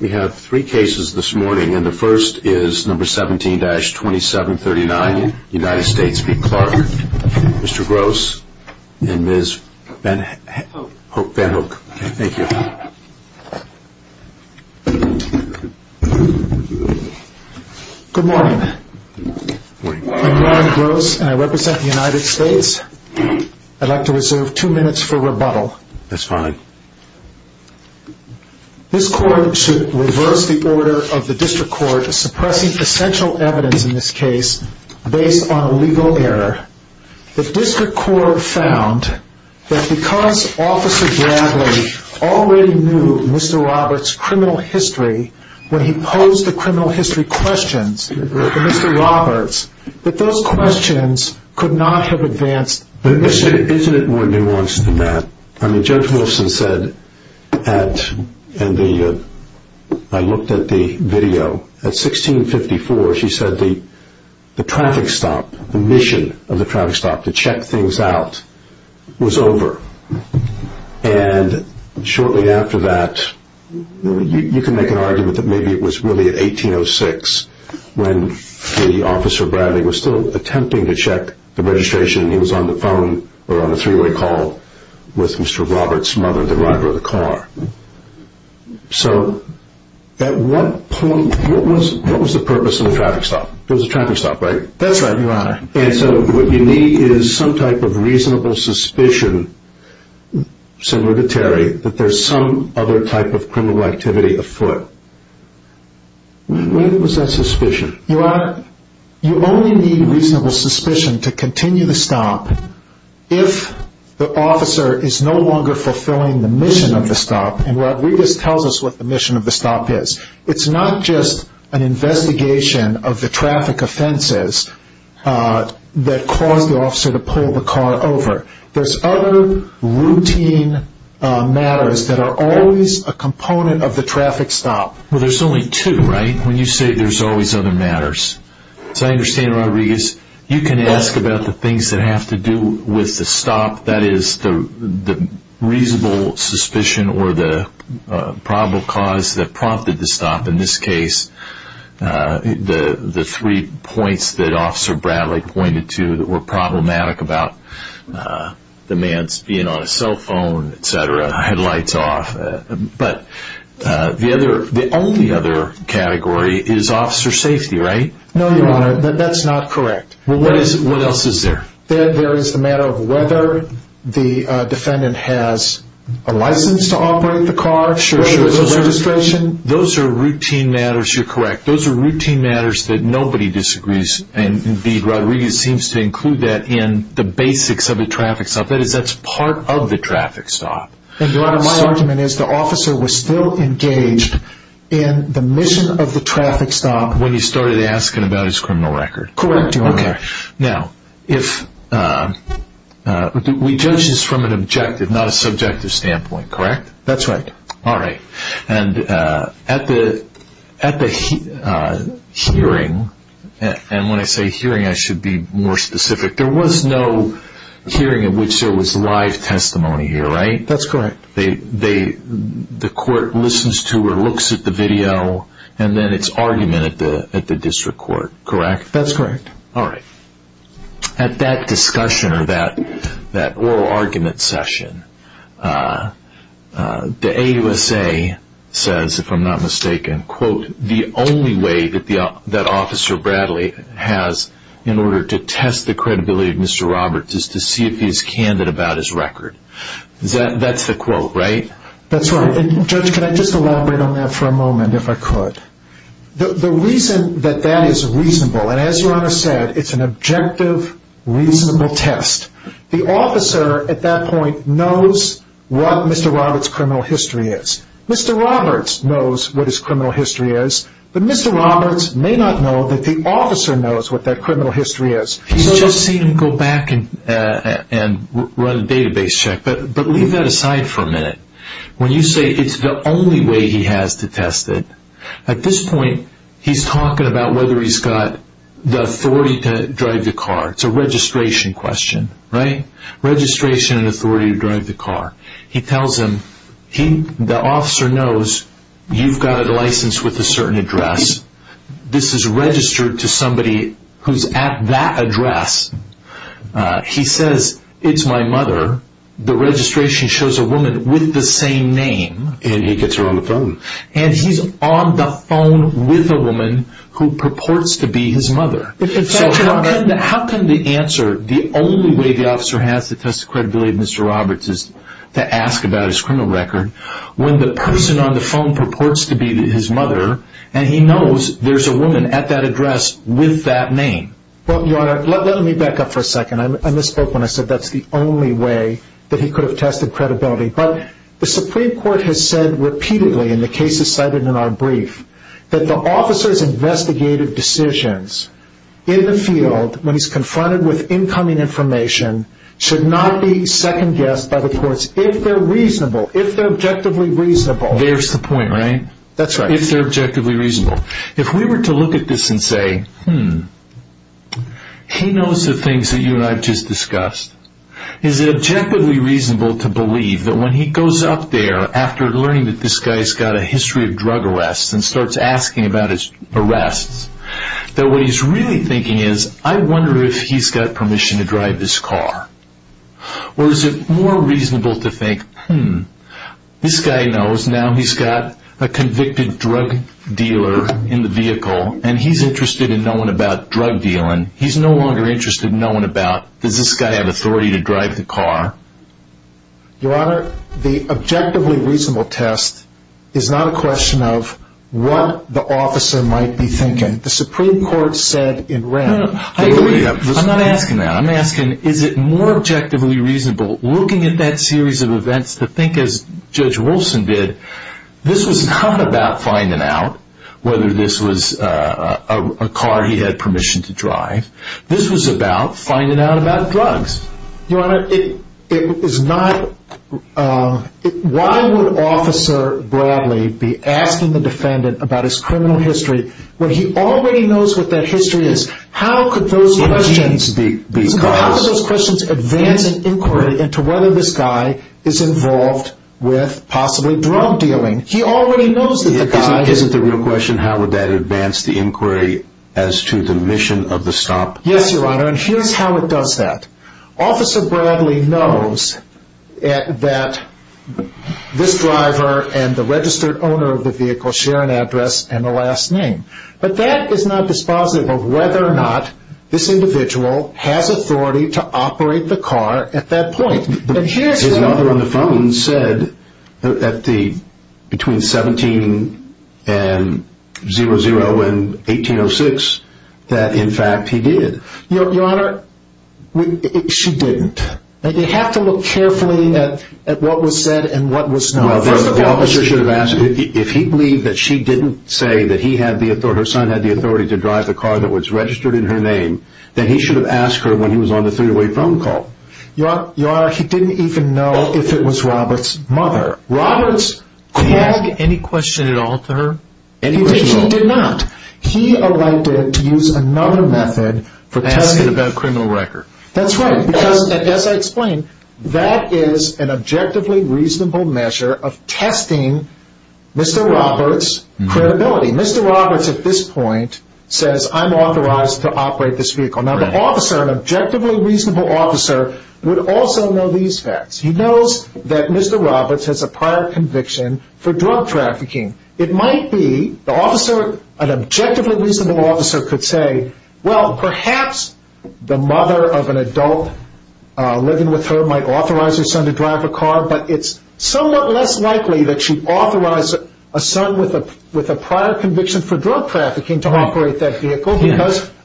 We have three cases this morning and the first is number 17-2739 United States v. Clark. Mr. Gross and Ms. Van Hook. Thank you. Good morning. I'm Warren Gross and I represent the United States. I'd like to reserve two minutes for rebuttal. That's fine. This court should reverse the order of the district court suppressing essential evidence in this case based on a legal error. The district court found that because Officer Bradley already knew Mr. Roberts' criminal history when he posed the criminal history questions to Mr. Roberts, that those questions could not have advanced the issue. Isn't it more nuanced than that? Judge Wilson said, and I looked at the video, at 1654 she said the traffic stop, the mission of the traffic stop to check things out was over. And shortly after that, you can make an argument that maybe it was really at 1806 when the Officer Bradley was still attempting to check the registration and he was on the phone or on a three-way call with Mr. Roberts' mother, the driver of the car. So at what point, what was the purpose of the traffic stop? It was a traffic stop, right? That's right, Your Honor. And so what you need is some type of reasonable suspicion similar to Terry that there's some other type of criminal activity afoot. What was that suspicion? Your Honor, you only need reasonable suspicion to continue the stop if the officer is no longer fulfilling the mission of the stop and Rodriguez tells us what the mission of the stop is. It's not just an investigation of the traffic offenses that caused the officer to pull the car over. There's other routine matters that are always a component of the traffic stop. Well, there's only two, right? When you say there's always other matters. So I understand, Rodriguez, you can ask about the things that have to do with the stop, that is, the reasonable suspicion or the probable cause that prompted the stop. In this case, the three points that Officer Bradley pointed to that were problematic about the man being on a cell phone, etc., had lights off. But the only other category is officer safety, right? No, Your Honor, that's not correct. What else is there? There is the matter of whether the defendant has a license to operate the car, whether there's a registration. Those are routine matters, you're correct. Those are routine matters that nobody disagrees. Indeed, Rodriguez seems to include that in the basics of the traffic stop. That is, that's part of the traffic stop. Your Honor, my argument is the officer was still engaged in the mission of the traffic stop when he started asking about his criminal record. Correct, Your Honor. Now, we judge this from an objective, not a subjective standpoint, correct? That's right. All right, and at the hearing, and when I say hearing, I should be more specific. There was no hearing in which there was live testimony here, right? That's correct. The court listens to or looks at the video, and then it's argument at the district court, correct? That's correct. All right, at that discussion or that oral argument session, the AUSA says, if I'm not mistaken, quote, the only way that Officer Bradley has in order to test the credibility of Mr. Roberts is to see if he's candid about his record. That's the quote, right? That's right, and Judge, can I just elaborate on that for a moment, if I could? The reason that that is reasonable, and as Your Honor said, it's an objective, reasonable test. The officer at that point knows what Mr. Roberts' criminal history is. Mr. Roberts knows what his criminal history is, but Mr. Roberts may not know that the officer knows what that criminal history is. He's just seen him go back and run a database check, but leave that aside for a minute. When you say it's the only way he has to test it, at this point, he's talking about whether he's got the authority to drive the car. It's a registration question, right? Registration and authority to drive the car. He tells him, the officer knows you've got a license with a certain address. This is registered to somebody who's at that address. He says, it's my mother. The registration shows a woman with the same name. And he gets her on the phone. And he's on the phone with a woman who purports to be his mother. How can the answer, the only way the officer has to test the credibility of Mr. Roberts is to ask about his criminal record, when the person on the phone purports to be his mother, and he knows there's a woman at that address with that name? Well, Your Honor, let me back up for a second. I misspoke when I said that's the only way that he could have tested credibility. But the Supreme Court has said repeatedly, and the case is cited in our brief, that the officer's investigative decisions in the field when he's confronted with incoming information should not be second-guessed by the courts if they're reasonable, if they're objectively reasonable. There's the point, right? That's right. If they're objectively reasonable. If we were to look at this and say, hmm, he knows the things that you and I just discussed. Is it objectively reasonable to believe that when he goes up there after learning that this guy's got a history of drug arrests and starts asking about his arrests, that what he's really thinking is, I wonder if he's got permission to drive this car? Or is it more reasonable to think, hmm, this guy knows now he's got a convicted drug dealer in the vehicle, and he's interested in knowing about drug dealing. He's no longer interested in knowing about, does this guy have authority to drive the car? Your Honor, the objectively reasonable test is not a question of what the officer might be thinking. The Supreme Court said in writ. I agree. I'm not asking that. I'm asking, is it more objectively reasonable looking at that series of events to think, as Judge Wolfson did, this was not about finding out whether this was a car he had permission to drive. This was about finding out about drugs. Your Honor, it is not. Why would Officer Bradley be asking the defendant about his criminal history when he already knows what that history is? How could those questions advance an inquiry into whether this guy is involved with possibly drug dealing? He already knows that the guy is. Isn't the real question, how would that advance the inquiry as to the mission of the stop? Yes, Your Honor, and here's how it does that. Officer Bradley knows that this driver and the registered owner of the vehicle share an address and a last name. But that is not dispositive of whether or not this individual has authority to operate the car at that point. His mother on the phone said between 17-00 and 18-06 that, in fact, he did. Your Honor, she didn't. You have to look carefully at what was said and what was not. First of all, the officer should have asked, if he believed that she didn't say that he had the authority, her son had the authority to drive the car that was registered in her name, then he should have asked her when he was on the three-way phone call. Your Honor, he didn't even know if it was Robert's mother. Robert's, did he ask any question at all to her? Any question at all. He did not. He elected to use another method for testing. Asking about a criminal record. That's right, because, as I explained, that is an objectively reasonable measure of testing Mr. Robert's credibility. Mr. Robert's, at this point, says, I'm authorized to operate this vehicle. Now, the officer, an objectively reasonable officer, would also know these facts. He knows that Mr. Robert's has a prior conviction for drug trafficking. It might be, the officer, an objectively reasonable officer could say, well, perhaps the mother of an adult living with her might authorize her son to drive a car, but it's somewhat less likely that she'd authorize a son with a prior conviction for drug trafficking to operate that vehicle.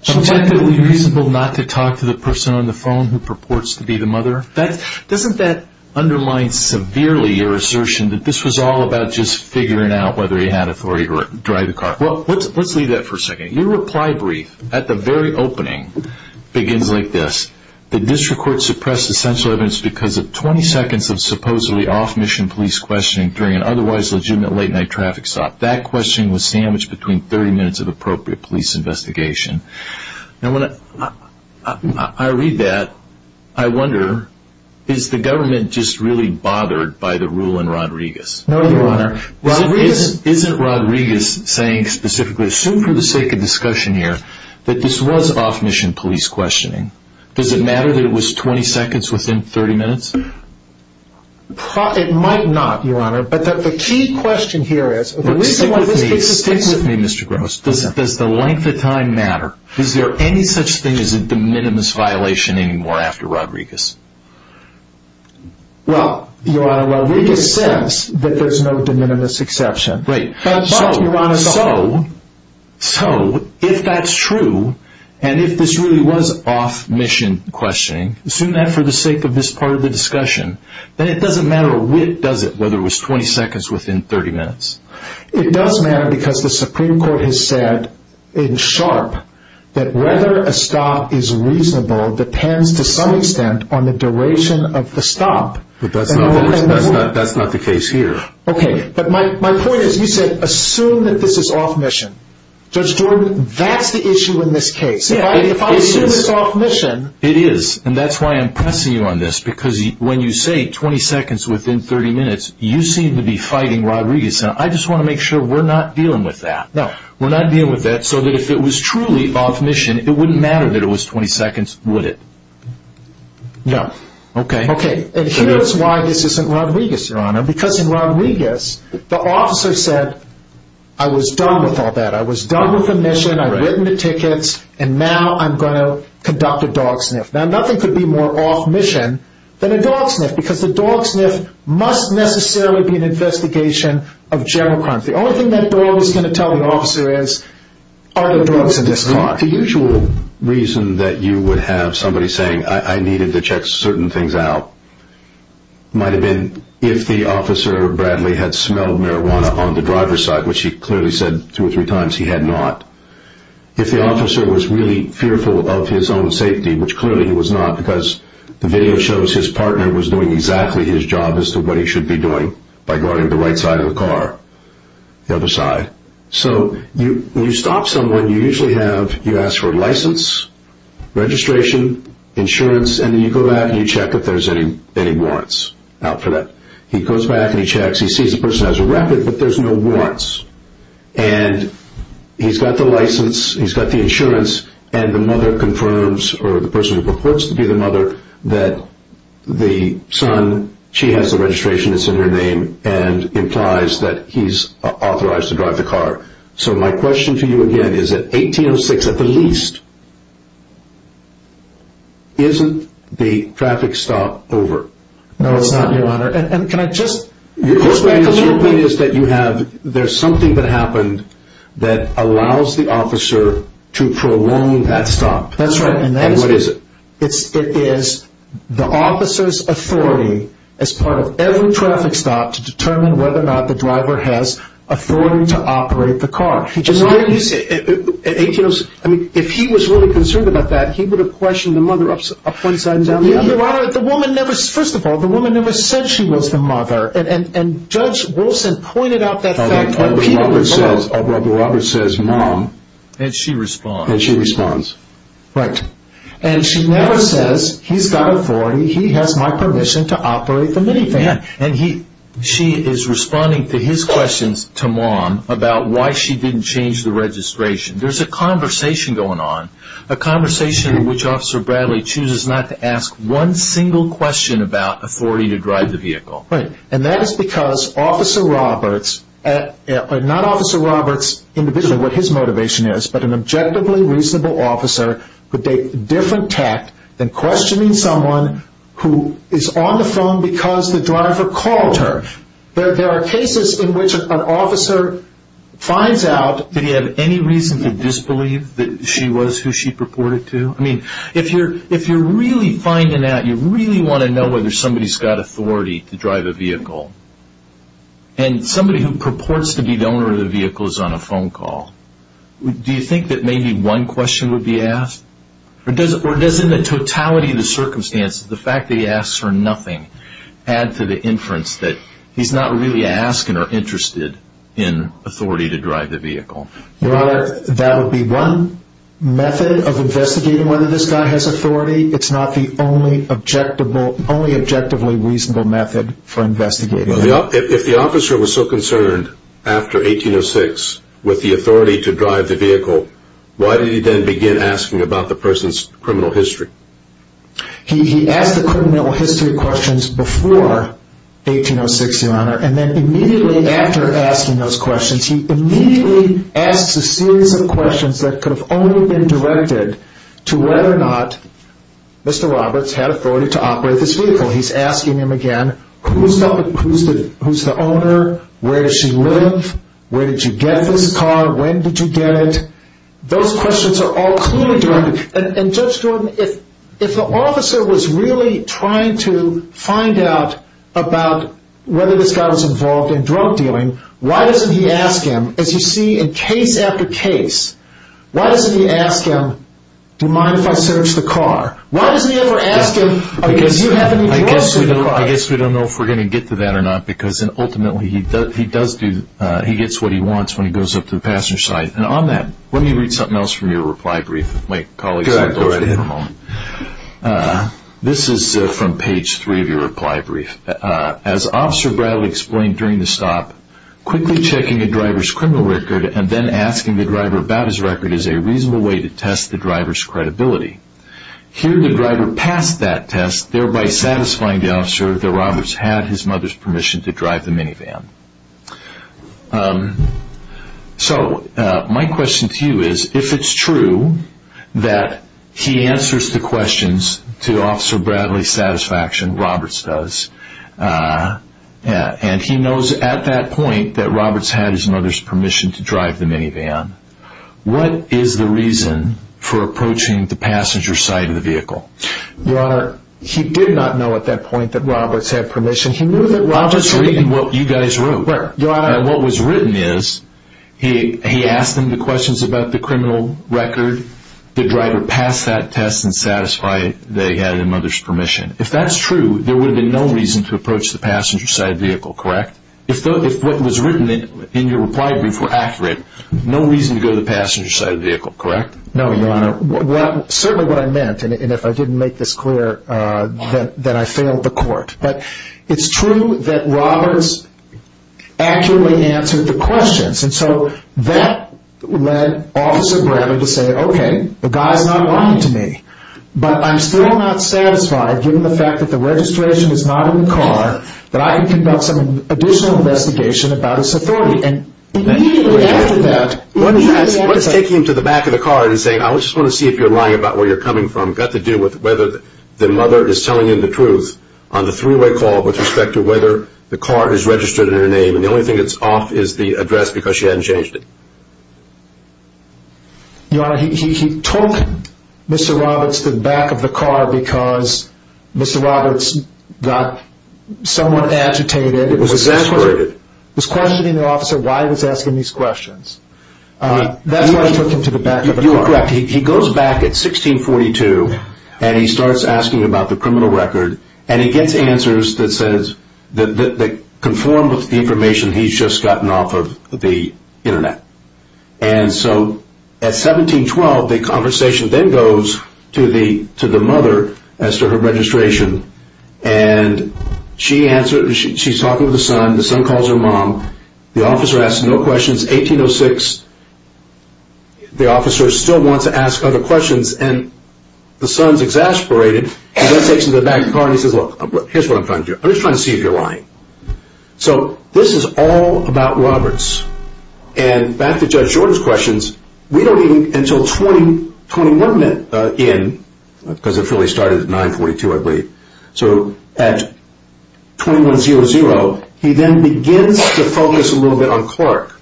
Objectively reasonable not to talk to the person on the phone who purports to be the mother? Doesn't that undermine severely your assertion that this was all about just figuring out whether he had authority to drive the car? Well, let's leave that for a second. Your reply brief at the very opening begins like this. The district court suppressed essential evidence because of 20 seconds of supposedly off-mission police questioning during an otherwise legitimate late-night traffic stop. That questioning was sandwiched between 30 minutes of appropriate police investigation. Now, when I read that, I wonder, is the government just really bothered by the rule in Rodriguez? No, Your Honor. Isn't Rodriguez saying specifically, assume for the sake of discussion here, that this was off-mission police questioning? Does it matter that it was 20 seconds within 30 minutes? It might not, Your Honor, but the key question here is, Stick with me, Mr. Gross. Does the length of time matter? Is there any such thing as a de minimis violation anymore after Rodriguez? Well, Your Honor, Rodriguez says that there's no de minimis exception. Right. So, if that's true, and if this really was off-mission questioning, assume that for the sake of this part of the discussion, then it doesn't matter, does it, whether it was 20 seconds within 30 minutes? It does matter because the Supreme Court has said in sharp that whether a stop is reasonable depends to some extent on the duration of the stop. But that's not the case here. Okay. But my point is, you said, assume that this is off-mission. Judge Jordan, that's the issue in this case. If I assume it's off-mission... It is. And that's why I'm pressing you on this, because when you say 20 seconds within 30 minutes, you seem to be fighting Rodriguez. Now, I just want to make sure we're not dealing with that. No. We're not dealing with that so that if it was truly off-mission, it wouldn't matter that it was 20 seconds, would it? No. Okay. Okay. And here's why this isn't Rodriguez, Your Honor. Because in Rodriguez, the officer said, I was done with all that. I was done with the mission, I've written the tickets, and now I'm going to conduct a dog sniff. Now, nothing could be more off-mission than a dog sniff, because the dog sniff must necessarily be an investigation of general crimes. The only thing that dog is going to tell the officer is, are there drugs in this car? The usual reason that you would have somebody saying, I needed to check certain things out, might have been if the officer, Bradley, had smelled marijuana on the driver's side, which he clearly said two or three times he had not. If the officer was really fearful of his own safety, which clearly he was not, because the video shows his partner was doing exactly his job as to what he should be doing by going to the right side of the car, the other side. So when you stop someone, you usually have, you ask for a license, registration, insurance, and then you go back and you check if there's any warrants out for that. He goes back and he checks, he sees the person has a record, but there's no warrants. And he's got the license, he's got the insurance, and the mother confirms, or the person who purports to be the mother, that the son, she has the registration, it's in her name, and implies that he's authorized to drive the car. So my question to you again is, at 1806 at the least, isn't the traffic stop over? No, it's not, Your Honor. Your point is that there's something that happened that allows the officer to prolong that stop. That's right. And what is it? It is the officer's authority, as part of every traffic stop, to determine whether or not the driver has authority to operate the car. Why didn't you say, at 1806, if he was really concerned about that, Your Honor, the woman never, first of all, the woman never said she was the mother, and Judge Wilson pointed out that fact. Our brother Robert says, Mom. And she responds. And she responds. Right. And she never says, he's got authority, he has my permission to operate the minivan. And she is responding to his questions to Mom about why she didn't change the registration. There's a conversation going on, a conversation in which Officer Bradley chooses not to ask one single question about authority to drive the vehicle. Right. And that is because Officer Roberts, not Officer Roberts individually, what his motivation is, but an objectively reasonable officer could take a different tact than questioning someone who is on the phone because the driver called her. There are cases in which an officer finds out, did he have any reason to disbelieve that she was who she purported to? I mean, if you're really finding out, you really want to know whether somebody's got authority to drive a vehicle, and somebody who purports to be the owner of the vehicle is on a phone call, do you think that maybe one question would be asked? Or doesn't the totality of the circumstances, the fact that he asks for nothing, add to the inference that he's not really asking or interested in authority to drive the vehicle? Your Honor, that would be one method of investigating whether this guy has authority. It's not the only objectively reasonable method for investigating. If the officer was so concerned after 1806 with the authority to drive the vehicle, why did he then begin asking about the person's criminal history? He asked the criminal history questions before 1806, Your Honor, and then immediately after asking those questions, he immediately asks a series of questions that could have only been directed to whether or not Mr. Roberts had authority to operate this vehicle. He's asking him again, who's the owner, where does she live, where did you get this car, when did you get it? Those questions are all clearly directed. And Judge Jordan, if the officer was really trying to find out about whether this guy was involved in drug dealing, why doesn't he ask him, as you see in case after case, why doesn't he ask him, do you mind if I search the car? Why doesn't he ever ask him, do you have any drugs in your car? I guess we don't know if we're going to get to that or not, because ultimately he gets what he wants when he goes up to the passenger side. And on that, why don't you read something else from your reply brief? Go ahead. This is from page three of your reply brief. As Officer Bradley explained during the stop, quickly checking a driver's criminal record and then asking the driver about his record is a reasonable way to test the driver's credibility. Here the driver passed that test, thereby satisfying the officer that Roberts had his mother's permission to drive the minivan. So my question to you is, if it's true that he answers the questions to Officer Bradley's satisfaction, Roberts does, and he knows at that point that Roberts had his mother's permission to drive the minivan, what is the reason for approaching the passenger side of the vehicle? Your Honor, he did not know at that point that Roberts had permission. I'm just reading what you guys wrote. What was written is he asked him the questions about the criminal record, the driver passed that test and satisfied that he had his mother's permission. If that's true, there would have been no reason to approach the passenger side of the vehicle, correct? If what was written in your reply brief were accurate, no reason to go to the passenger side of the vehicle, correct? No, Your Honor. Certainly what I meant, and if I didn't make this clear, that I failed the court. But it's true that Roberts accurately answered the questions. And so that led Officer Bradley to say, okay, the guy's not lying to me. But I'm still not satisfied, given the fact that the registration is not in the car, that I can conduct some additional investigation about his authority. And immediately after that, he had the answer. What is taking him to the back of the car and saying, I just want to see if you're lying about where you're coming from, has got to do with whether the mother is telling him the truth on the three-way call with respect to whether the car is registered in her name. And the only thing that's off is the address because she hadn't changed it. Your Honor, he took Mr. Roberts to the back of the car because Mr. Roberts got somewhat agitated. He was exasperated. He was questioning the officer why he was asking these questions. That's why he took him to the back of the car. Your Honor, you are correct. He goes back at 1642, and he starts asking about the criminal record, and he gets answers that conform with the information he's just gotten off of the Internet. And so at 1712, the conversation then goes to the mother as to her registration, and she's talking to the son. The son calls her mom. The officer asks no questions. 1806, the officer still wants to ask other questions, and the son's exasperated. He then takes him to the back of the car, and he says, look, here's what I'm trying to do. I'm just trying to see if you're lying. So this is all about Roberts. And back to Judge Jordan's questions, we don't even until 21 in, because it really started at 942, I believe, so at 2100, he then begins to focus a little bit on Clark.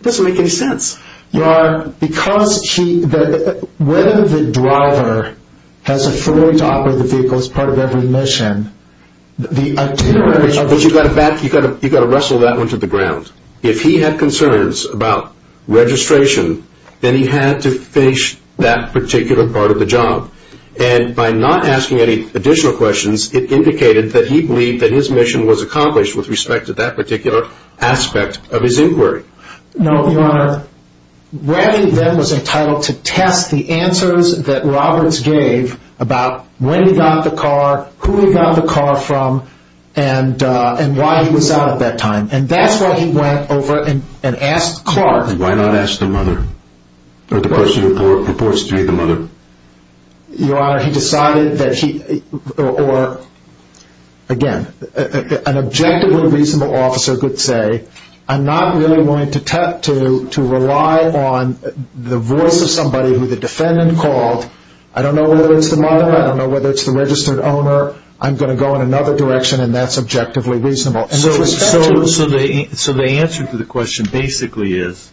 It doesn't make any sense. Your Honor, because he, whether the driver has a full top of the vehicle as part of every mission, the itinerary of the vehicle. You've got to wrestle that one to the ground. If he had concerns about registration, then he had to finish that particular part of the job. And by not asking any additional questions, it indicated that he believed that his mission was accomplished with respect to that particular aspect of his inquiry. No, Your Honor. Rabbi then was entitled to test the answers that Roberts gave about when he got the car, who he got the car from, and why he was out at that time. And that's why he went over and asked Clark. Why not ask the mother? Or the person who purports to be the mother. Your Honor, he decided that he, or, again, an objectively reasonable officer could say, I'm not really willing to rely on the voice of somebody who the defendant called. I don't know whether it's the mother. I don't know whether it's the registered owner. I'm going to go in another direction, and that's objectively reasonable. So the answer to the question basically is,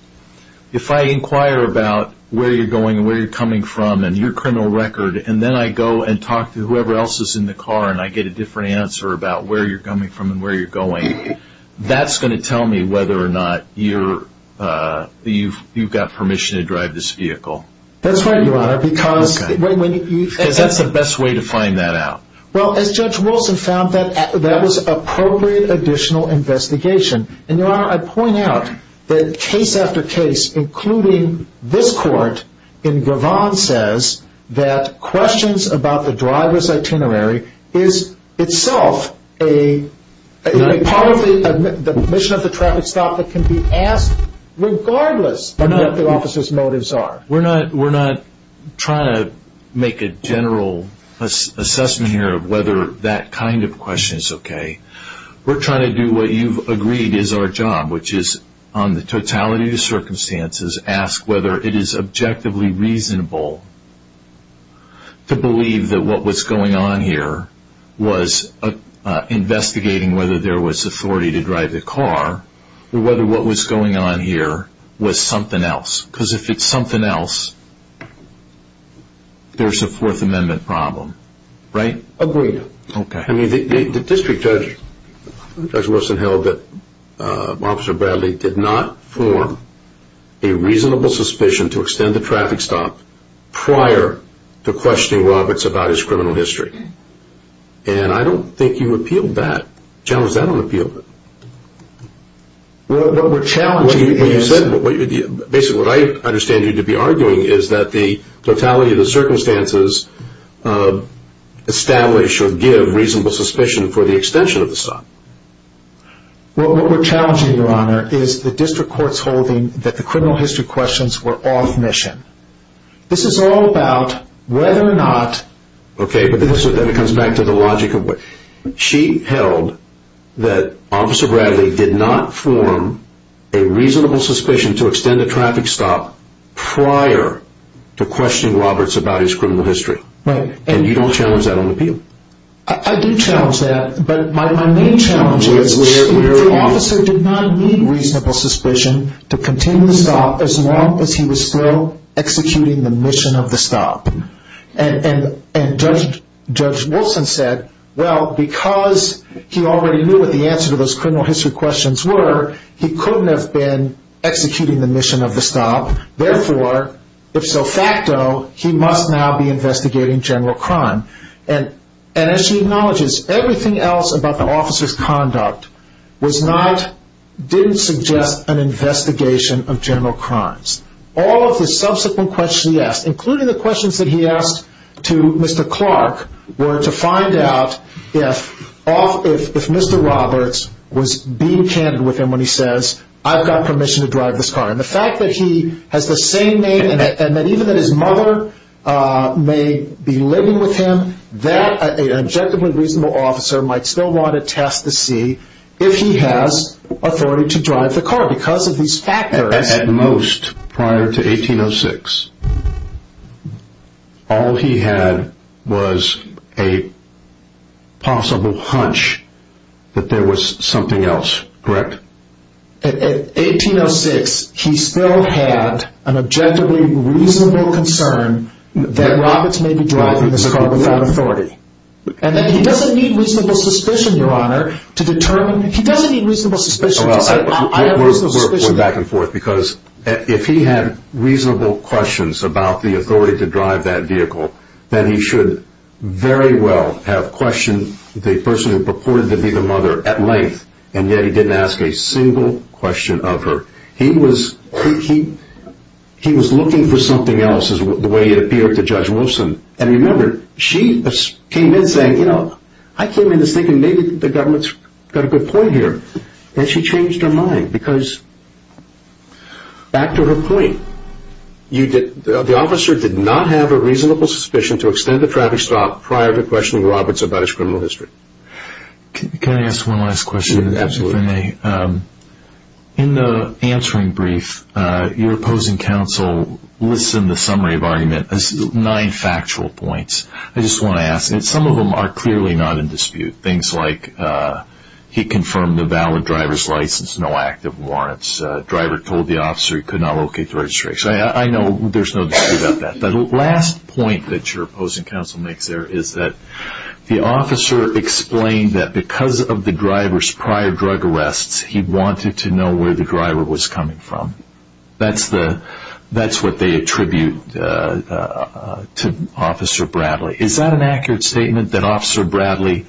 if I inquire about where you're going and where you're coming from and your criminal record, and then I go and talk to whoever else is in the car, and I get a different answer about where you're coming from and where you're going, that's going to tell me whether or not you've got permission to drive this vehicle. That's right, Your Honor. Because that's the best way to find that out. Well, as Judge Wilson found, that was appropriate additional investigation. And, Your Honor, I point out that case after case, including this court in Gavon, says that questions about the driver's itinerary is itself a part of the admission of the traffic stop that can be asked regardless of what the officer's motives are. We're not trying to make a general assessment here of whether that kind of question is okay. We're trying to do what you've agreed is our job, which is on the totality of the circumstances, ask whether it is objectively reasonable to believe that what was going on here was investigating whether there was authority to drive the car or whether what was going on here was something else. Because if it's something else, there's a Fourth Amendment problem, right? Agreed. Okay. I mean, the district judge, Judge Wilson, held that Officer Bradley did not form a reasonable suspicion to extend the traffic stop prior to questioning Roberts about his criminal history. And I don't think you appealed that, challenged that on appeal. What we're challenging is... Basically, what I understand you to be arguing is that the totality of the circumstances establish or give reasonable suspicion for the extension of the stop. What we're challenging, Your Honor, is the district court's holding that the criminal history questions were off mission. This is all about whether or not... Okay, but then it comes back to the logic of what... She held that Officer Bradley did not form a reasonable suspicion to extend the traffic stop prior to questioning Roberts about his criminal history. Right. And you don't challenge that on appeal. I do challenge that. But my main challenge is the officer did not need reasonable suspicion to continue the stop as long as he was still executing the mission of the stop. And Judge Wilson said, well, because he already knew what the answer to those criminal history questions were, he couldn't have been executing the mission of the stop. Therefore, if so facto, he must now be investigating general crime. And as she acknowledges, everything else about the officer's conduct didn't suggest an investigation of general crimes. All of the subsequent questions he asked, including the questions that he asked to Mr. Clark, were to find out if Mr. Roberts was being candid with him when he says, I've got permission to drive this car. And the fact that he has the same name, and that even his mother may be living with him, that an objectively reasonable officer might still want to test to see if he has authority to drive the car because of these factors. At most, prior to 1806, all he had was a possible hunch that there was something else. Correct? In 1806, he still had an objectively reasonable concern that Roberts may be driving this car without authority. And he doesn't need reasonable suspicion, Your Honor, to determine. Because if he had reasonable questions about the authority to drive that vehicle, then he should very well have questioned the person who purported to be the mother at length, and yet he didn't ask a single question of her. He was looking for something else, the way it appeared to Judge Wilson. And remember, she came in saying, I came in thinking maybe the government's got a good point here. And she changed her mind because, back to her point, the officer did not have a reasonable suspicion to extend the traffic stop prior to questioning Roberts about his criminal history. Can I ask one last question? Absolutely. In the answering brief, your opposing counsel lists in the summary of argument nine factual points. Things like he confirmed the valid driver's license, no active warrants, the driver told the officer he could not locate the registration. I know there's no dispute about that. But the last point that your opposing counsel makes there is that the officer explained that because of the driver's prior drug arrests, he wanted to know where the driver was coming from. That's what they attribute to Officer Bradley. Is that an accurate statement that Officer Bradley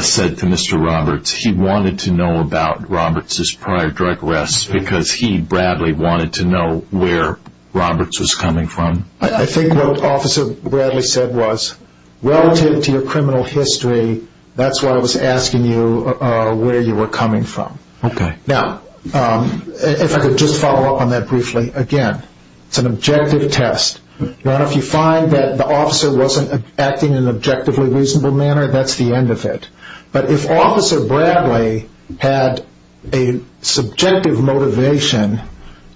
said to Mr. Roberts? He wanted to know about Roberts' prior drug arrests because he, Bradley, wanted to know where Roberts was coming from? I think what Officer Bradley said was, relative to your criminal history, that's why I was asking you where you were coming from. Okay. Now, if I could just follow up on that briefly again. It's an objective test. If you find that the officer wasn't acting in an objectively reasonable manner, that's the end of it. But if Officer Bradley had a subjective motivation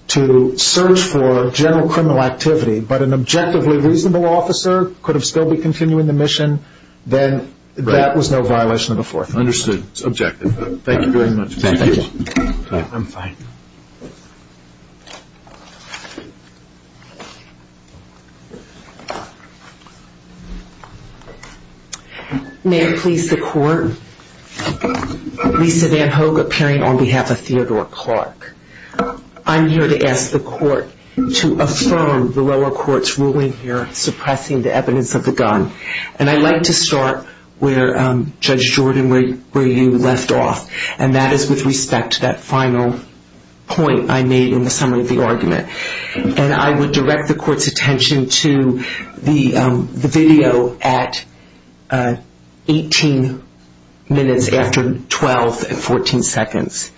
to search for general criminal activity but an objectively reasonable officer could still be continuing the mission, then that was no violation of the Fourth Amendment. Understood. It's objective. Thank you very much. Thank you. I'm fine. May it please the Court. Lisa Van Hoge, appearing on behalf of Theodore Clark. I'm here to ask the Court to affirm the lower court's ruling here suppressing the evidence of the gun. And I'd like to start where Judge Jordan, where you left off, and that is with respect to that final point I made in the summary of the argument. And I would direct the Court's attention to the video at 18 minutes after 12 at 14 seconds.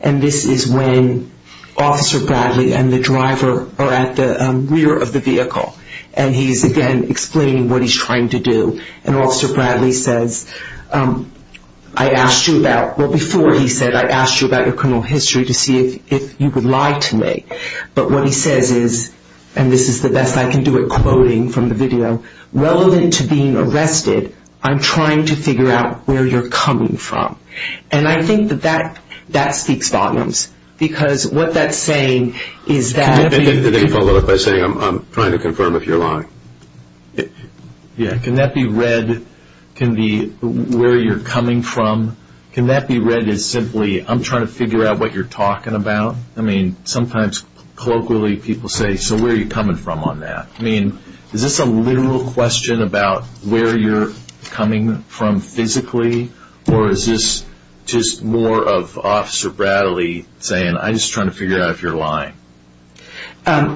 And this is when Officer Bradley and the driver are at the rear of the vehicle. And he's, again, explaining what he's trying to do. And Officer Bradley says, I asked you about, well, before he said, I asked you about your criminal history to see if you would lie to me. But what he says is, and this is the best I can do at quoting from the video, relevant to being arrested, I'm trying to figure out where you're coming from. And I think that that speaks volumes, because what that's saying is that... Can you follow up by saying I'm trying to confirm if you're lying? Yeah. Can that be read, can it be where you're coming from? Can that be read as simply I'm trying to figure out what you're talking about? I mean, sometimes colloquially people say, so where are you coming from on that? I mean, is this a literal question about where you're coming from physically? Or is this just more of Officer Bradley saying, I'm just trying to figure out if you're lying? I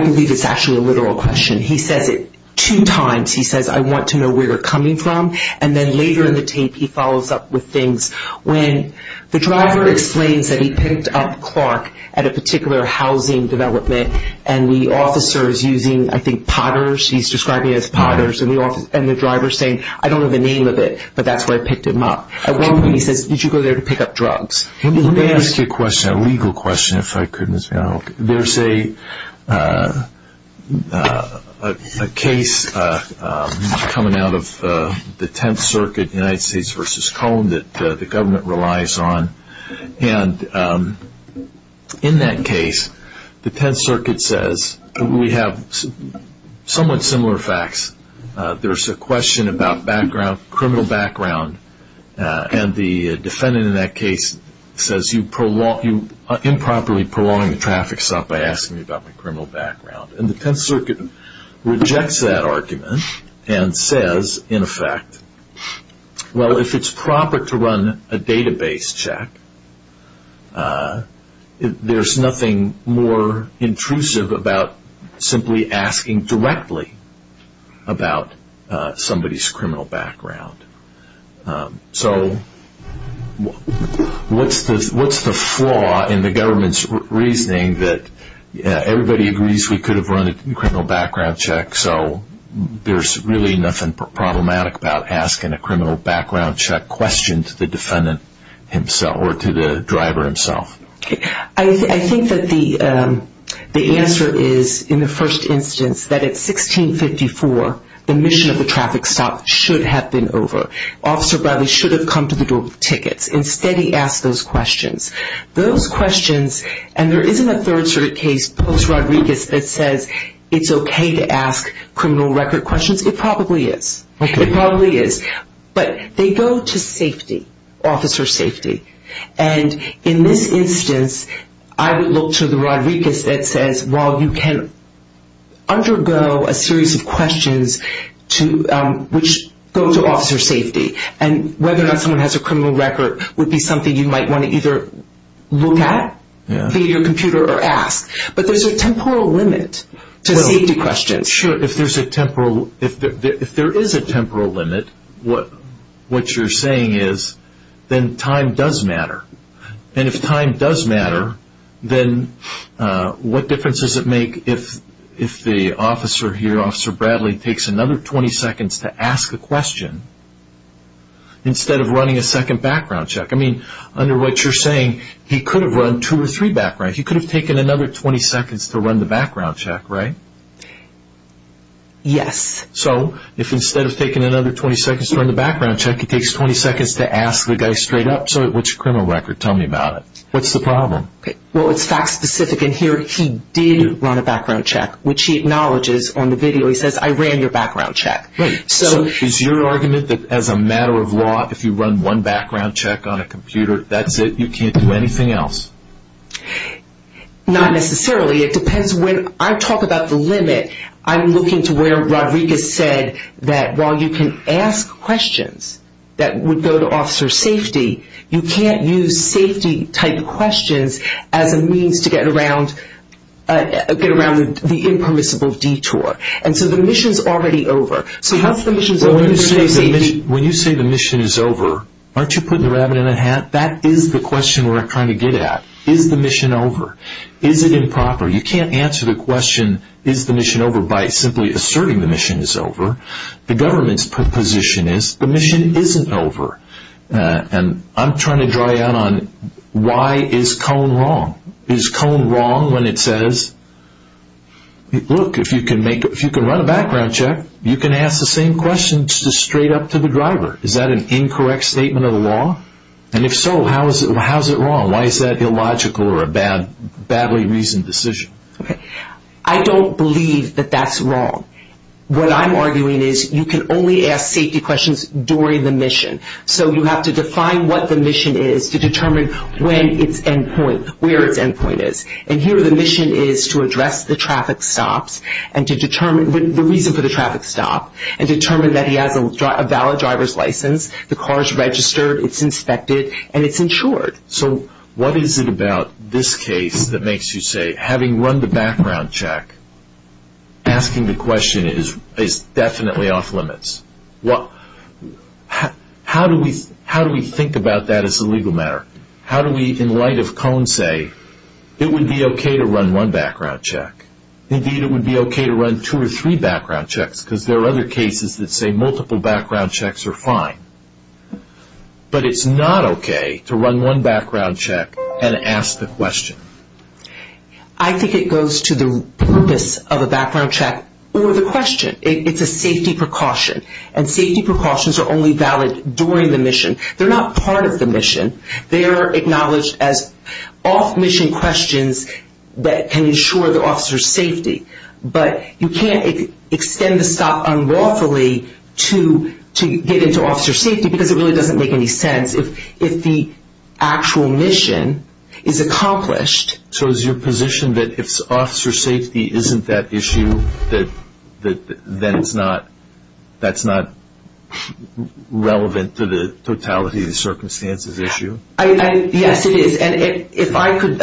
believe it's actually a literal question. He says it two times. He says, I want to know where you're coming from. And then later in the tape he follows up with things. When the driver explains that he picked up Clark at a particular housing development and the officer is using, I think, potters. He's describing it as potters. And the driver is saying, I don't know the name of it, but that's where I picked him up. At one point he says, did you go there to pick up drugs? Let me ask you a question, a legal question, if I could, Ms. Brown. There's a case coming out of the Tenth Circuit, United States v. Cone, that the government relies on. And in that case, the Tenth Circuit says we have somewhat similar facts. There's a question about criminal background. And the defendant in that case says you are improperly prolonging the traffic stop by asking me about my criminal background. And the Tenth Circuit rejects that argument and says, in effect, well if it's proper to run a database check, there's nothing more intrusive about simply asking directly about somebody's criminal background. So what's the flaw in the government's reasoning that everybody agrees we could have run a criminal background check so there's really nothing problematic about asking a criminal background check question to the defendant himself or to the driver himself? I think that the answer is, in the first instance, that at 1654, the mission of the traffic stop should have been over. Officer Bradley should have come to the door with tickets. Instead he asked those questions. Those questions, and there isn't a third sort of case, post-Rodriguez, that says it's okay to ask criminal record questions. It probably is. It probably is. But they go to safety, officer safety. And in this instance, I would look to the Rodriguez that says, while you can undergo a series of questions which go to officer safety, and whether or not someone has a criminal record would be something you might want to either look at via your computer or ask. But there's a temporal limit to safety questions. If there is a temporal limit, what you're saying is, then time does matter. And if time does matter, then what difference does it make if the officer here, Officer Bradley, takes another 20 seconds to ask a question instead of running a second background check? I mean, under what you're saying, he could have run two or three background checks. Right. He could have taken another 20 seconds to run the background check, right? Yes. So if instead of taking another 20 seconds to run the background check, he takes 20 seconds to ask the guy straight up, what's your criminal record? Tell me about it. What's the problem? Well, it's fact specific. And here he did run a background check, which he acknowledges on the video. He says, I ran your background check. So is your argument that as a matter of law, if you run one background check on a computer, that's it? You can't do anything else? Not necessarily. It depends. When I talk about the limit, I'm looking to where Rodriguez said that while you can ask questions that would go to officer safety, you can't use safety-type questions as a means to get around the impermissible detour. And so the mission's already over. So once the mission's over, there's no safety. When you say the mission is over, aren't you putting the rabbit in the hat? That is the question we're trying to get at. Is the mission over? Is it improper? You can't answer the question, is the mission over, by simply asserting the mission is over. The government's proposition is the mission isn't over. And I'm trying to dry out on why is Cone wrong. Is Cone wrong when it says, look, if you can run a background check, you can ask the same questions straight up to the driver. Is that an incorrect statement of the law? And if so, how is it wrong? Why is that illogical or a badly reasoned decision? I don't believe that that's wrong. What I'm arguing is you can only ask safety questions during the mission. So you have to define what the mission is to determine when it's end point, where its end point is. And here the mission is to address the traffic stops and to determine the reason for the traffic stop and determine that he has a valid driver's license, the car is registered, it's inspected, and it's insured. So what is it about this case that makes you say, having run the background check, asking the question is definitely off limits? How do we think about that as a legal matter? How do we, in light of Cone's say, it would be okay to run one background check. Indeed, it would be okay to run two or three background checks because there are other cases that say multiple background checks are fine. But it's not okay to run one background check and ask the question. I think it goes to the purpose of a background check or the question. It's a safety precaution. And safety precautions are only valid during the mission. They're not part of the mission. They are acknowledged as off-mission questions that can ensure the officer's safety. But you can't extend the stop unlawfully to get into officer's safety because it really doesn't make any sense if the actual mission is accomplished. So is your position that if officer safety isn't that issue, then that's not relevant to the totality of the circumstances issue? Yes, it is. And if I could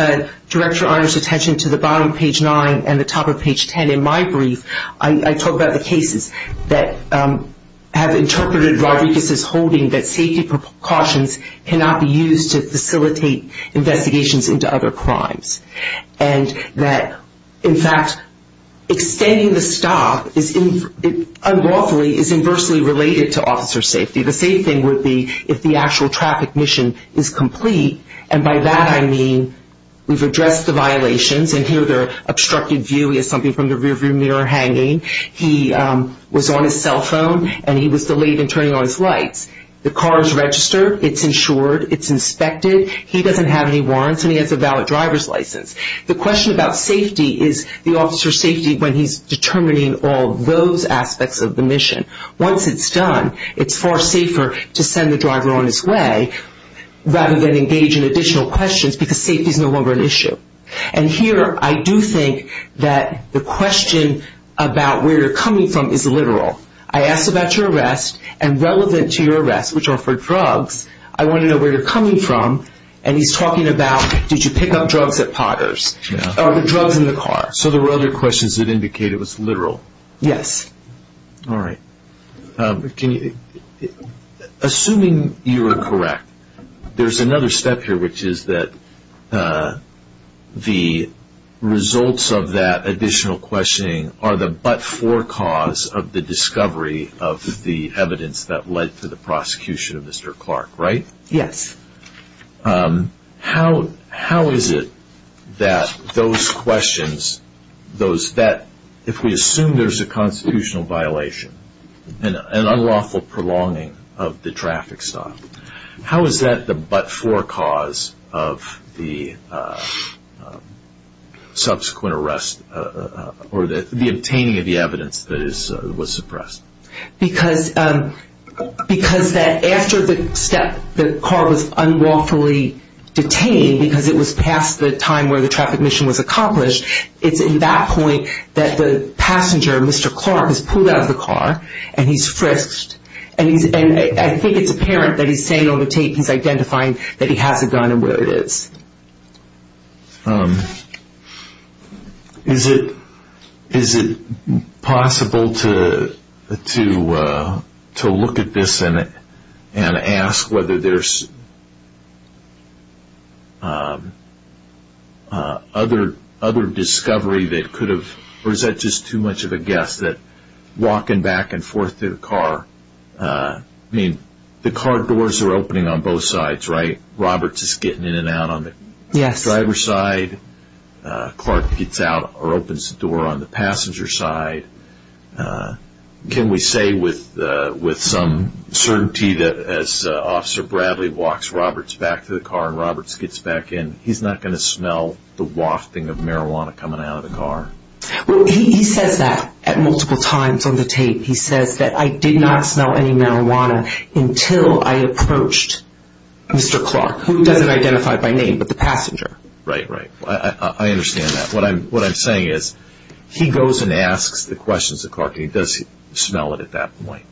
direct Your Honor's attention to the bottom of page 9 and the top of page 10 in my brief, I talk about the cases that have interpreted Rodriguez's holding that safety precautions cannot be used to facilitate investigations into other crimes. And that, in fact, extending the stop unlawfully is inversely related to officer's safety. The same thing would be if the actual traffic mission is complete. And by that I mean we've addressed the violations. And here they're obstructed view. We have something from the rearview mirror hanging. He was on his cell phone and he was delayed in turning on his lights. The car is registered. It's insured. It's inspected. He doesn't have any warrants and he has a valid driver's license. The question about safety is the officer's safety when he's determining all those aspects of the mission. Once it's done, it's far safer to send the driver on his way rather than engage in additional questions because safety is no longer an issue. And here I do think that the question about where you're coming from is literal. I asked about your arrest and relevant to your arrest, which are for drugs, I want to know where you're coming from. And he's talking about did you pick up drugs at Potter's or the drugs in the car. So there were other questions that indicated it was literal. Yes. All right. Assuming you are correct, there's another step here, which is that the results of that additional questioning are the but-for cause of the discovery of the evidence that led to the prosecution of Mr. Clark, right? Yes. How is it that those questions, if we assume there's a constitutional violation, an unlawful prolonging of the traffic stop, how is that the but-for cause of the subsequent arrest or the obtaining of the evidence that was suppressed? Because after the car was unlawfully detained, because it was past the time where the traffic mission was accomplished, it's in that point that the passenger, Mr. Clark, is pulled out of the car and he's frisked. And I think it's apparent that he's saying on the tape he's identifying that he has a gun and where it is. Is it possible to look at this and ask whether there's other discovery that could have, or is that just too much of a guess that walking back and forth through the car, I mean, the car doors are opening on both sides, right? Roberts is getting in and out on the driver's side. Clark gets out or opens the door on the passenger side. Can we say with some certainty that as Officer Bradley walks Roberts back to the car and Roberts gets back in, he's not going to smell the wafting of marijuana coming out of the car? Well, he says that at multiple times on the tape. He says that I did not smell any marijuana until I approached Mr. Clark, who doesn't identify by name, but the passenger. Right, right. I understand that. What I'm saying is he goes and asks the questions of Clark and he does smell it at that point.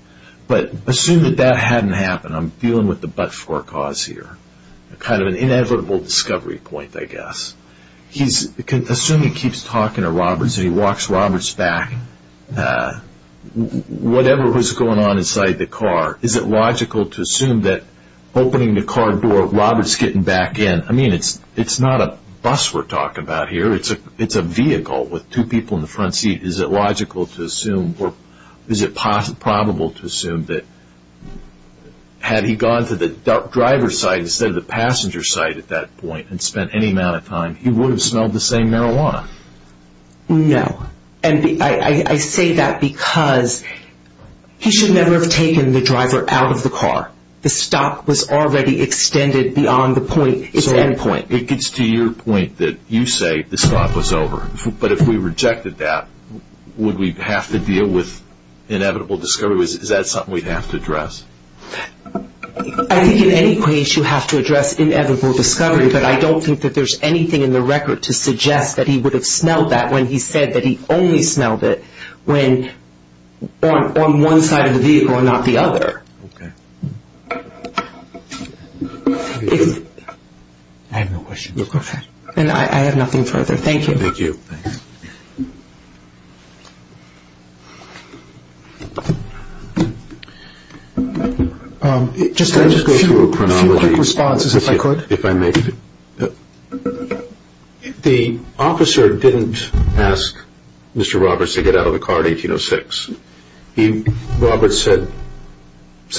But assume that that hadn't happened. I'm dealing with the but-for cause here. Kind of an inevitable discovery point, I guess. Assume he keeps talking to Roberts and he walks Roberts back. Whatever was going on inside the car, is it logical to assume that opening the car door, Roberts getting back in, I mean, it's not a bus we're talking about here, it's a vehicle with two people in the front seat. Is it logical to assume or is it probable to assume that had he gone to the driver's side instead of the passenger's side at that point and spent any amount of time, he would have smelled the same marijuana? No. And I say that because he should never have taken the driver out of the car. The stop was already extended beyond the point, its end point. It gets to your point that you say the stop was over. But if we rejected that, would we have to deal with inevitable discovery? Is that something we'd have to address? I think in any case you have to address inevitable discovery, but I don't think that there's anything in the record to suggest that he would have smelled that when he said that he only smelled it when on one side of the vehicle and not the other. Okay. Thank you. I have no questions. Okay. And I have nothing further. Thank you. Thank you. Can I just go through a chronology? A few quick responses if I could. If I may. The officer didn't ask Mr. Roberts to get out of the car in 1806. Roberts said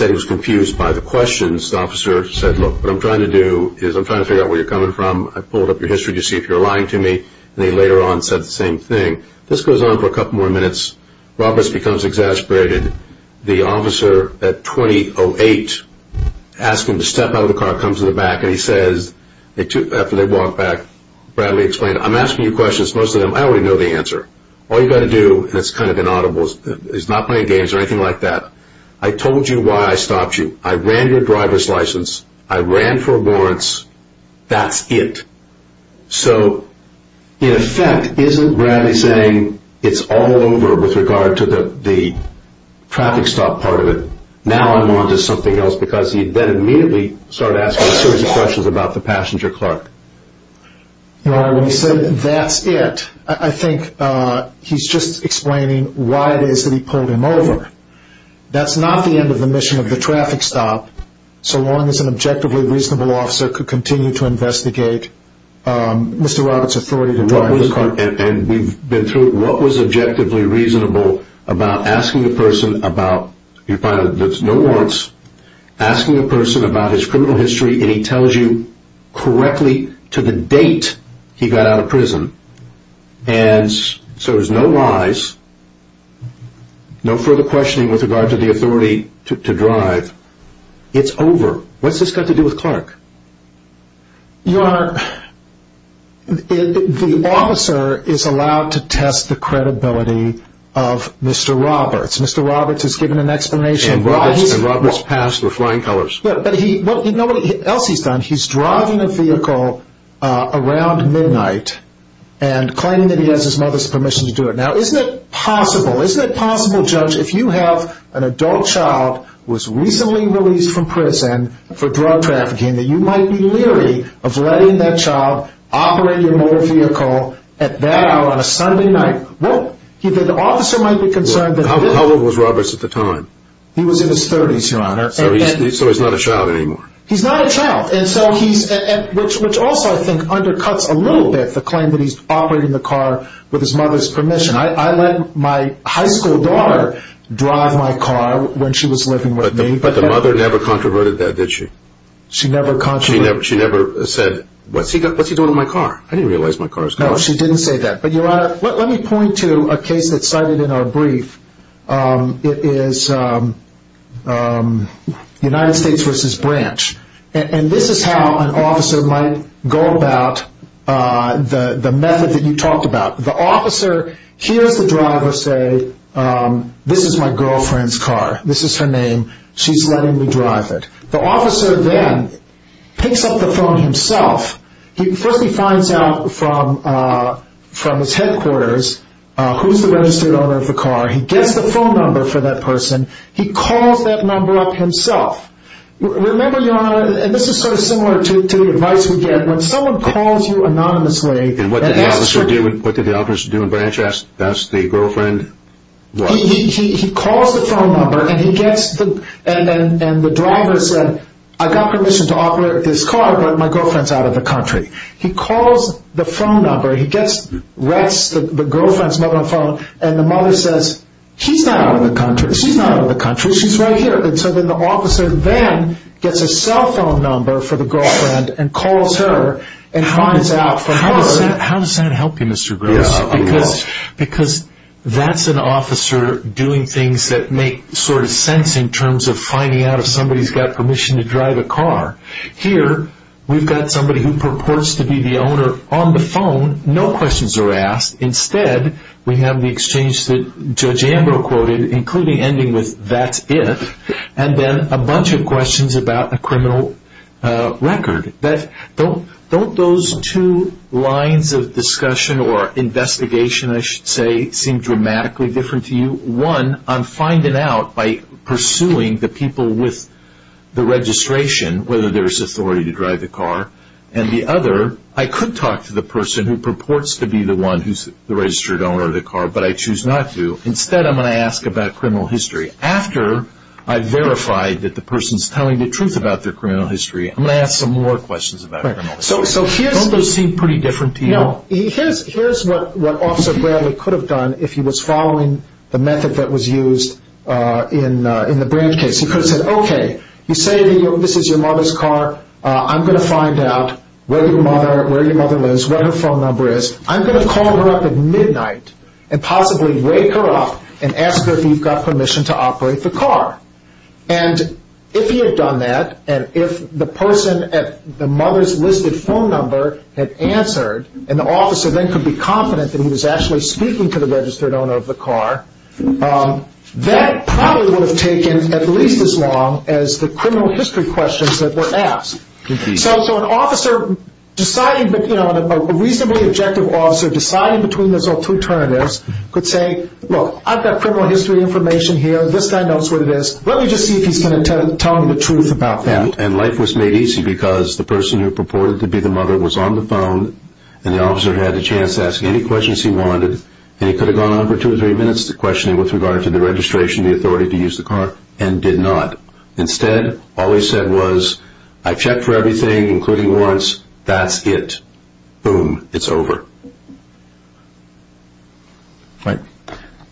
he was confused by the questions. The officer said, look, what I'm trying to do is I'm trying to figure out where you're coming from. I pulled up your history to see if you're lying to me. And he later on said the same thing. This goes on for a couple more minutes. Roberts becomes exasperated. The officer at 2008 asks him to step out of the car, comes to the back, and he says, after they walk back, Bradley explained, I'm asking you questions. Most of them I already know the answer. All you've got to do, and it's kind of inaudible, he's not playing games or anything like that, I told you why I stopped you. I ran your driver's license. I ran for warrants. That's it. So in effect, isn't Bradley saying it's all over with regard to the traffic stop part of it? Now I'm on to something else because he then immediately started asking a series of questions about the passenger car. Now, when he said that's it, I think he's just explaining why it is that he pulled him over. That's not the end of the mission of the traffic stop, so long as an objectively reasonable officer could continue to investigate Mr. Roberts' authority to drive the car. And we've been through it. What was objectively reasonable about asking a person about your pilot that's no warrants, asking a person about his criminal history, and he tells you correctly to the date he got out of prison, and so there's no lies, no further questioning with regard to the authority to drive, it's over. What's this got to do with Clark? Your Honor, the officer is allowed to test the credibility of Mr. Roberts. Mr. Roberts has given an explanation why he's passed. And Roberts was flying colors. But you know what else he's done? He's driving a vehicle around midnight and claiming that he has his mother's permission to do it. Now, isn't it possible, isn't it possible, Judge, if you have an adult child who was recently released from prison for drug trafficking, that you might be leery of letting that child operate your motor vehicle at that hour on a Sunday night? Well, the officer might be concerned. How old was Roberts at the time? He was in his 30s, Your Honor. So he's not a child anymore. He's not a child, which also I think undercuts a little bit the claim that he's operating the car with his mother's permission. I let my high school daughter drive my car when she was living with me. But the mother never controverted that, did she? She never controverted it. She never said, what's he doing with my car? I didn't realize my car was gone. No, she didn't say that. But, Your Honor, let me point to a case that's cited in our brief. It is United States v. Branch. And this is how an officer might go about the method that you talked about. The officer hears the driver say, this is my girlfriend's car. This is her name. She's letting me drive it. The officer then picks up the phone himself. First he finds out from his headquarters who's the registered owner of the car. He gets the phone number for that person. He calls that number up himself. Remember, Your Honor, and this is sort of similar to the advice we get. When someone calls you anonymously. And what did the officer do in Branch? Ask, that's the girlfriend. He calls the phone number, and the driver said, I've got permission to operate this car, but my girlfriend's out of the country. He calls the phone number. He gets the girlfriend's number on the phone. And the mother says, she's not out of the country. She's not out of the country. She's right here. And so then the officer then gets a cell phone number for the girlfriend and calls her and finds out from her. How does that help you, Mr. Gross? Because that's an officer doing things that make sort of sense in terms of finding out if somebody's got permission to drive a car. Here, we've got somebody who purports to be the owner on the phone. No questions are asked. Instead, we have the exchange that Judge Ambrose quoted, including ending with, that's if. And then a bunch of questions about a criminal record. Don't those two lines of discussion or investigation, I should say, seem dramatically different to you? One, I'm finding out by pursuing the people with the registration, whether there's authority to drive the car. And the other, I could talk to the person who purports to be the one who's the registered owner of the car, but I choose not to. Instead, I'm going to ask about criminal history. After I've verified that the person's telling the truth about their criminal history, I'm going to ask some more questions about criminal history. Don't those seem pretty different to you? Now, here's what Officer Bradley could have done if he was following the method that was used in the Branch case. He could have said, okay, you say this is your mother's car. I'm going to find out where your mother lives, what her phone number is. I'm going to call her up at midnight and possibly wake her up and ask her if you've got permission to operate the car. And if he had done that and if the person at the mother's listed phone number had answered and the officer then could be confident that he was actually speaking to the registered owner of the car, that probably would have taken at least as long as the criminal history questions that were asked. So an officer deciding, a reasonably objective officer deciding between those two alternatives could say, look, I've got criminal history information here. This guy knows what it is. Let me just see if he's going to tell me the truth about that. And life was made easy because the person who purported to be the mother was on the phone and the officer had a chance to ask any questions he wanted, and he could have gone on for two or three minutes to question him with regard to the registration, the authority to use the car, and did not. Instead, all he said was, I've checked for everything, including warrants. That's it. Boom. It's over. Right.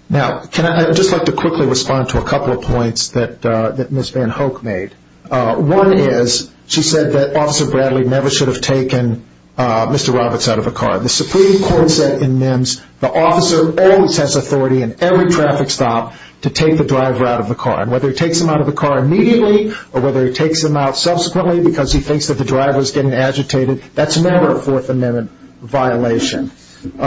Now, I'd just like to quickly respond to a couple of points that Ms. VanHook made. One is, she said that Officer Bradley never should have taken Mr. Roberts out of a car. The Supreme Court said in NIMS the officer always has authority in every traffic stop to take the driver out of the car. And whether he takes him out of the car immediately or whether he takes him out subsequently because he thinks that the driver is getting agitated, that's never a Fourth Amendment violation. Ms.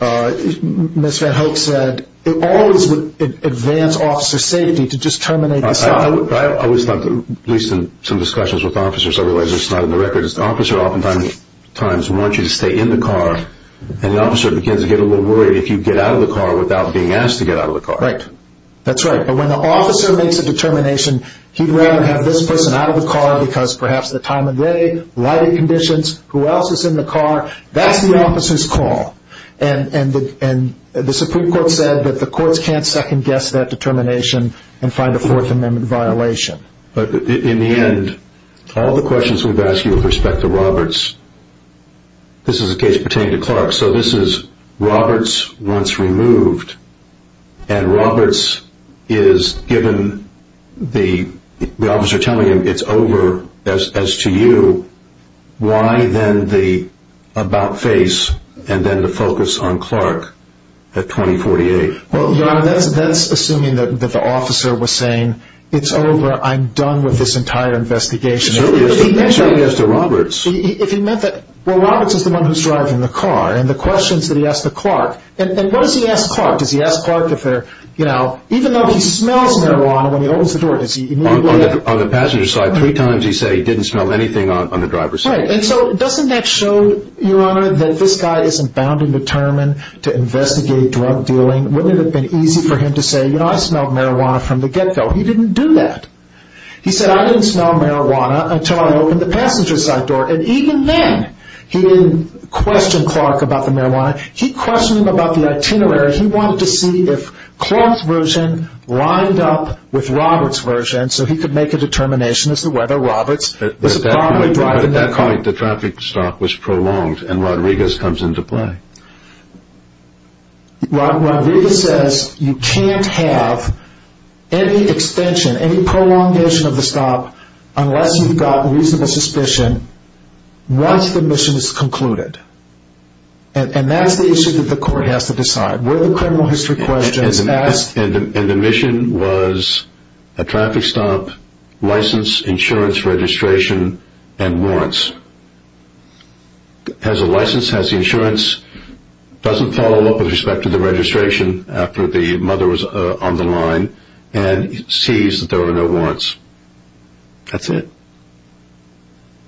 VanHook said it always would advance officer safety to just terminate the second. I always thought, at least in some discussions with officers, I realize this is not in the records, the officer oftentimes wants you to stay in the car, and the officer begins to get a little worried if you get out of the car without being asked to get out of the car. Right. That's right. But when the officer makes a determination, he'd rather have this person out of the car because perhaps the time of day, lighting conditions, who else is in the car, that's the officer's call. And the Supreme Court said that the courts can't second-guess that determination and find a Fourth Amendment violation. In the end, all the questions we've asked you with respect to Roberts, this is a case pertaining to Clark, so this is Roberts once removed, and Roberts is given the officer telling him, it's over as to you, why then the about face and then the focus on Clark at 2048? Well, Your Honor, that's assuming that the officer was saying, it's over, I'm done with this entire investigation. He mentioned it as to Roberts. If he meant that, well, Roberts is the one who's driving the car, and the questions that he asked the Clark, and what does he ask Clark? Does he ask Clark if they're, you know, even though he smells marijuana when he opens the door, does he immediately ask? On the passenger side, three times he said he didn't smell anything on the driver's side. Right, and so doesn't that show, Your Honor, that this guy isn't bound and determined to investigate drug dealing? Wouldn't it have been easy for him to say, you know, I smelled marijuana from the get-go? He didn't do that. He said, I didn't smell marijuana until I opened the passenger side door, and even then, he didn't question Clark about the marijuana. He questioned him about the itinerary. He wanted to see if Clark's version lined up with Roberts' version, so he could make a determination as to whether Roberts was the property driver. At that point, the traffic stop was prolonged, and Rodriguez comes into play. Rodriguez says you can't have any extension, any prolongation of the stop, unless you've got reasonable suspicion once the mission is concluded, and that's the issue that the court has to decide. Where the criminal history question is asked. And the mission was a traffic stop, license, insurance, registration, and warrants. Has the license, has the insurance, doesn't follow up with respect to the registration after the mother was on the line, and sees that there were no warrants. That's it.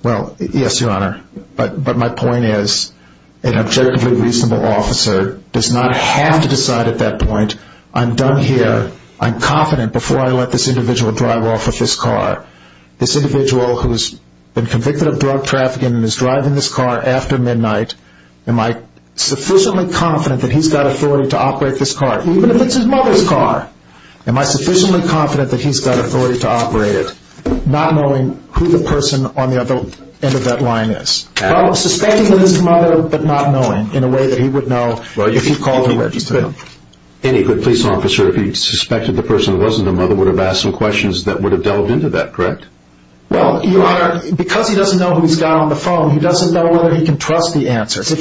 Well, yes, Your Honor. But my point is, an objectively reasonable officer does not have to decide at that point, I'm done here, I'm confident before I let this individual drive off with this car. This individual who's been convicted of drug trafficking and is driving this car after midnight, am I sufficiently confident that he's got authority to operate this car, even if it's his mother's car? Am I sufficiently confident that he's got authority to operate it, not knowing who the person on the other end of that line is? Well, suspecting that it's his mother, but not knowing, in a way that he would know if he called and registered him. Any good police officer, if he suspected the person wasn't the mother, would have asked some questions that would have delved into that, correct? Well, Your Honor, because he doesn't know who he's got on the phone, he doesn't know whether he can trust the answers. If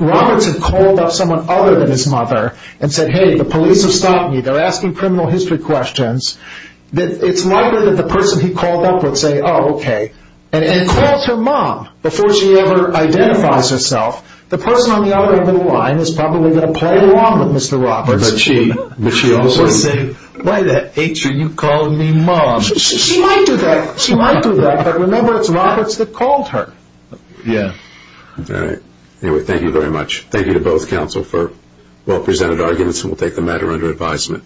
Roberts had called up someone other than his mother and said, hey, the police have stopped me, they're asking criminal history questions, it's likely that the person he called up would say, oh, okay, and calls her mom before she ever identifies herself. The person on the other end of the line is probably going to play along with Mr. Roberts. But she also would say, why the H are you calling me mom? She might do that. She might do that. But remember, it's Roberts that called her. Yeah. All right. Anyway, thank you very much. Thank you to both counsel for well-presented arguments, and we'll take the matter under advisement.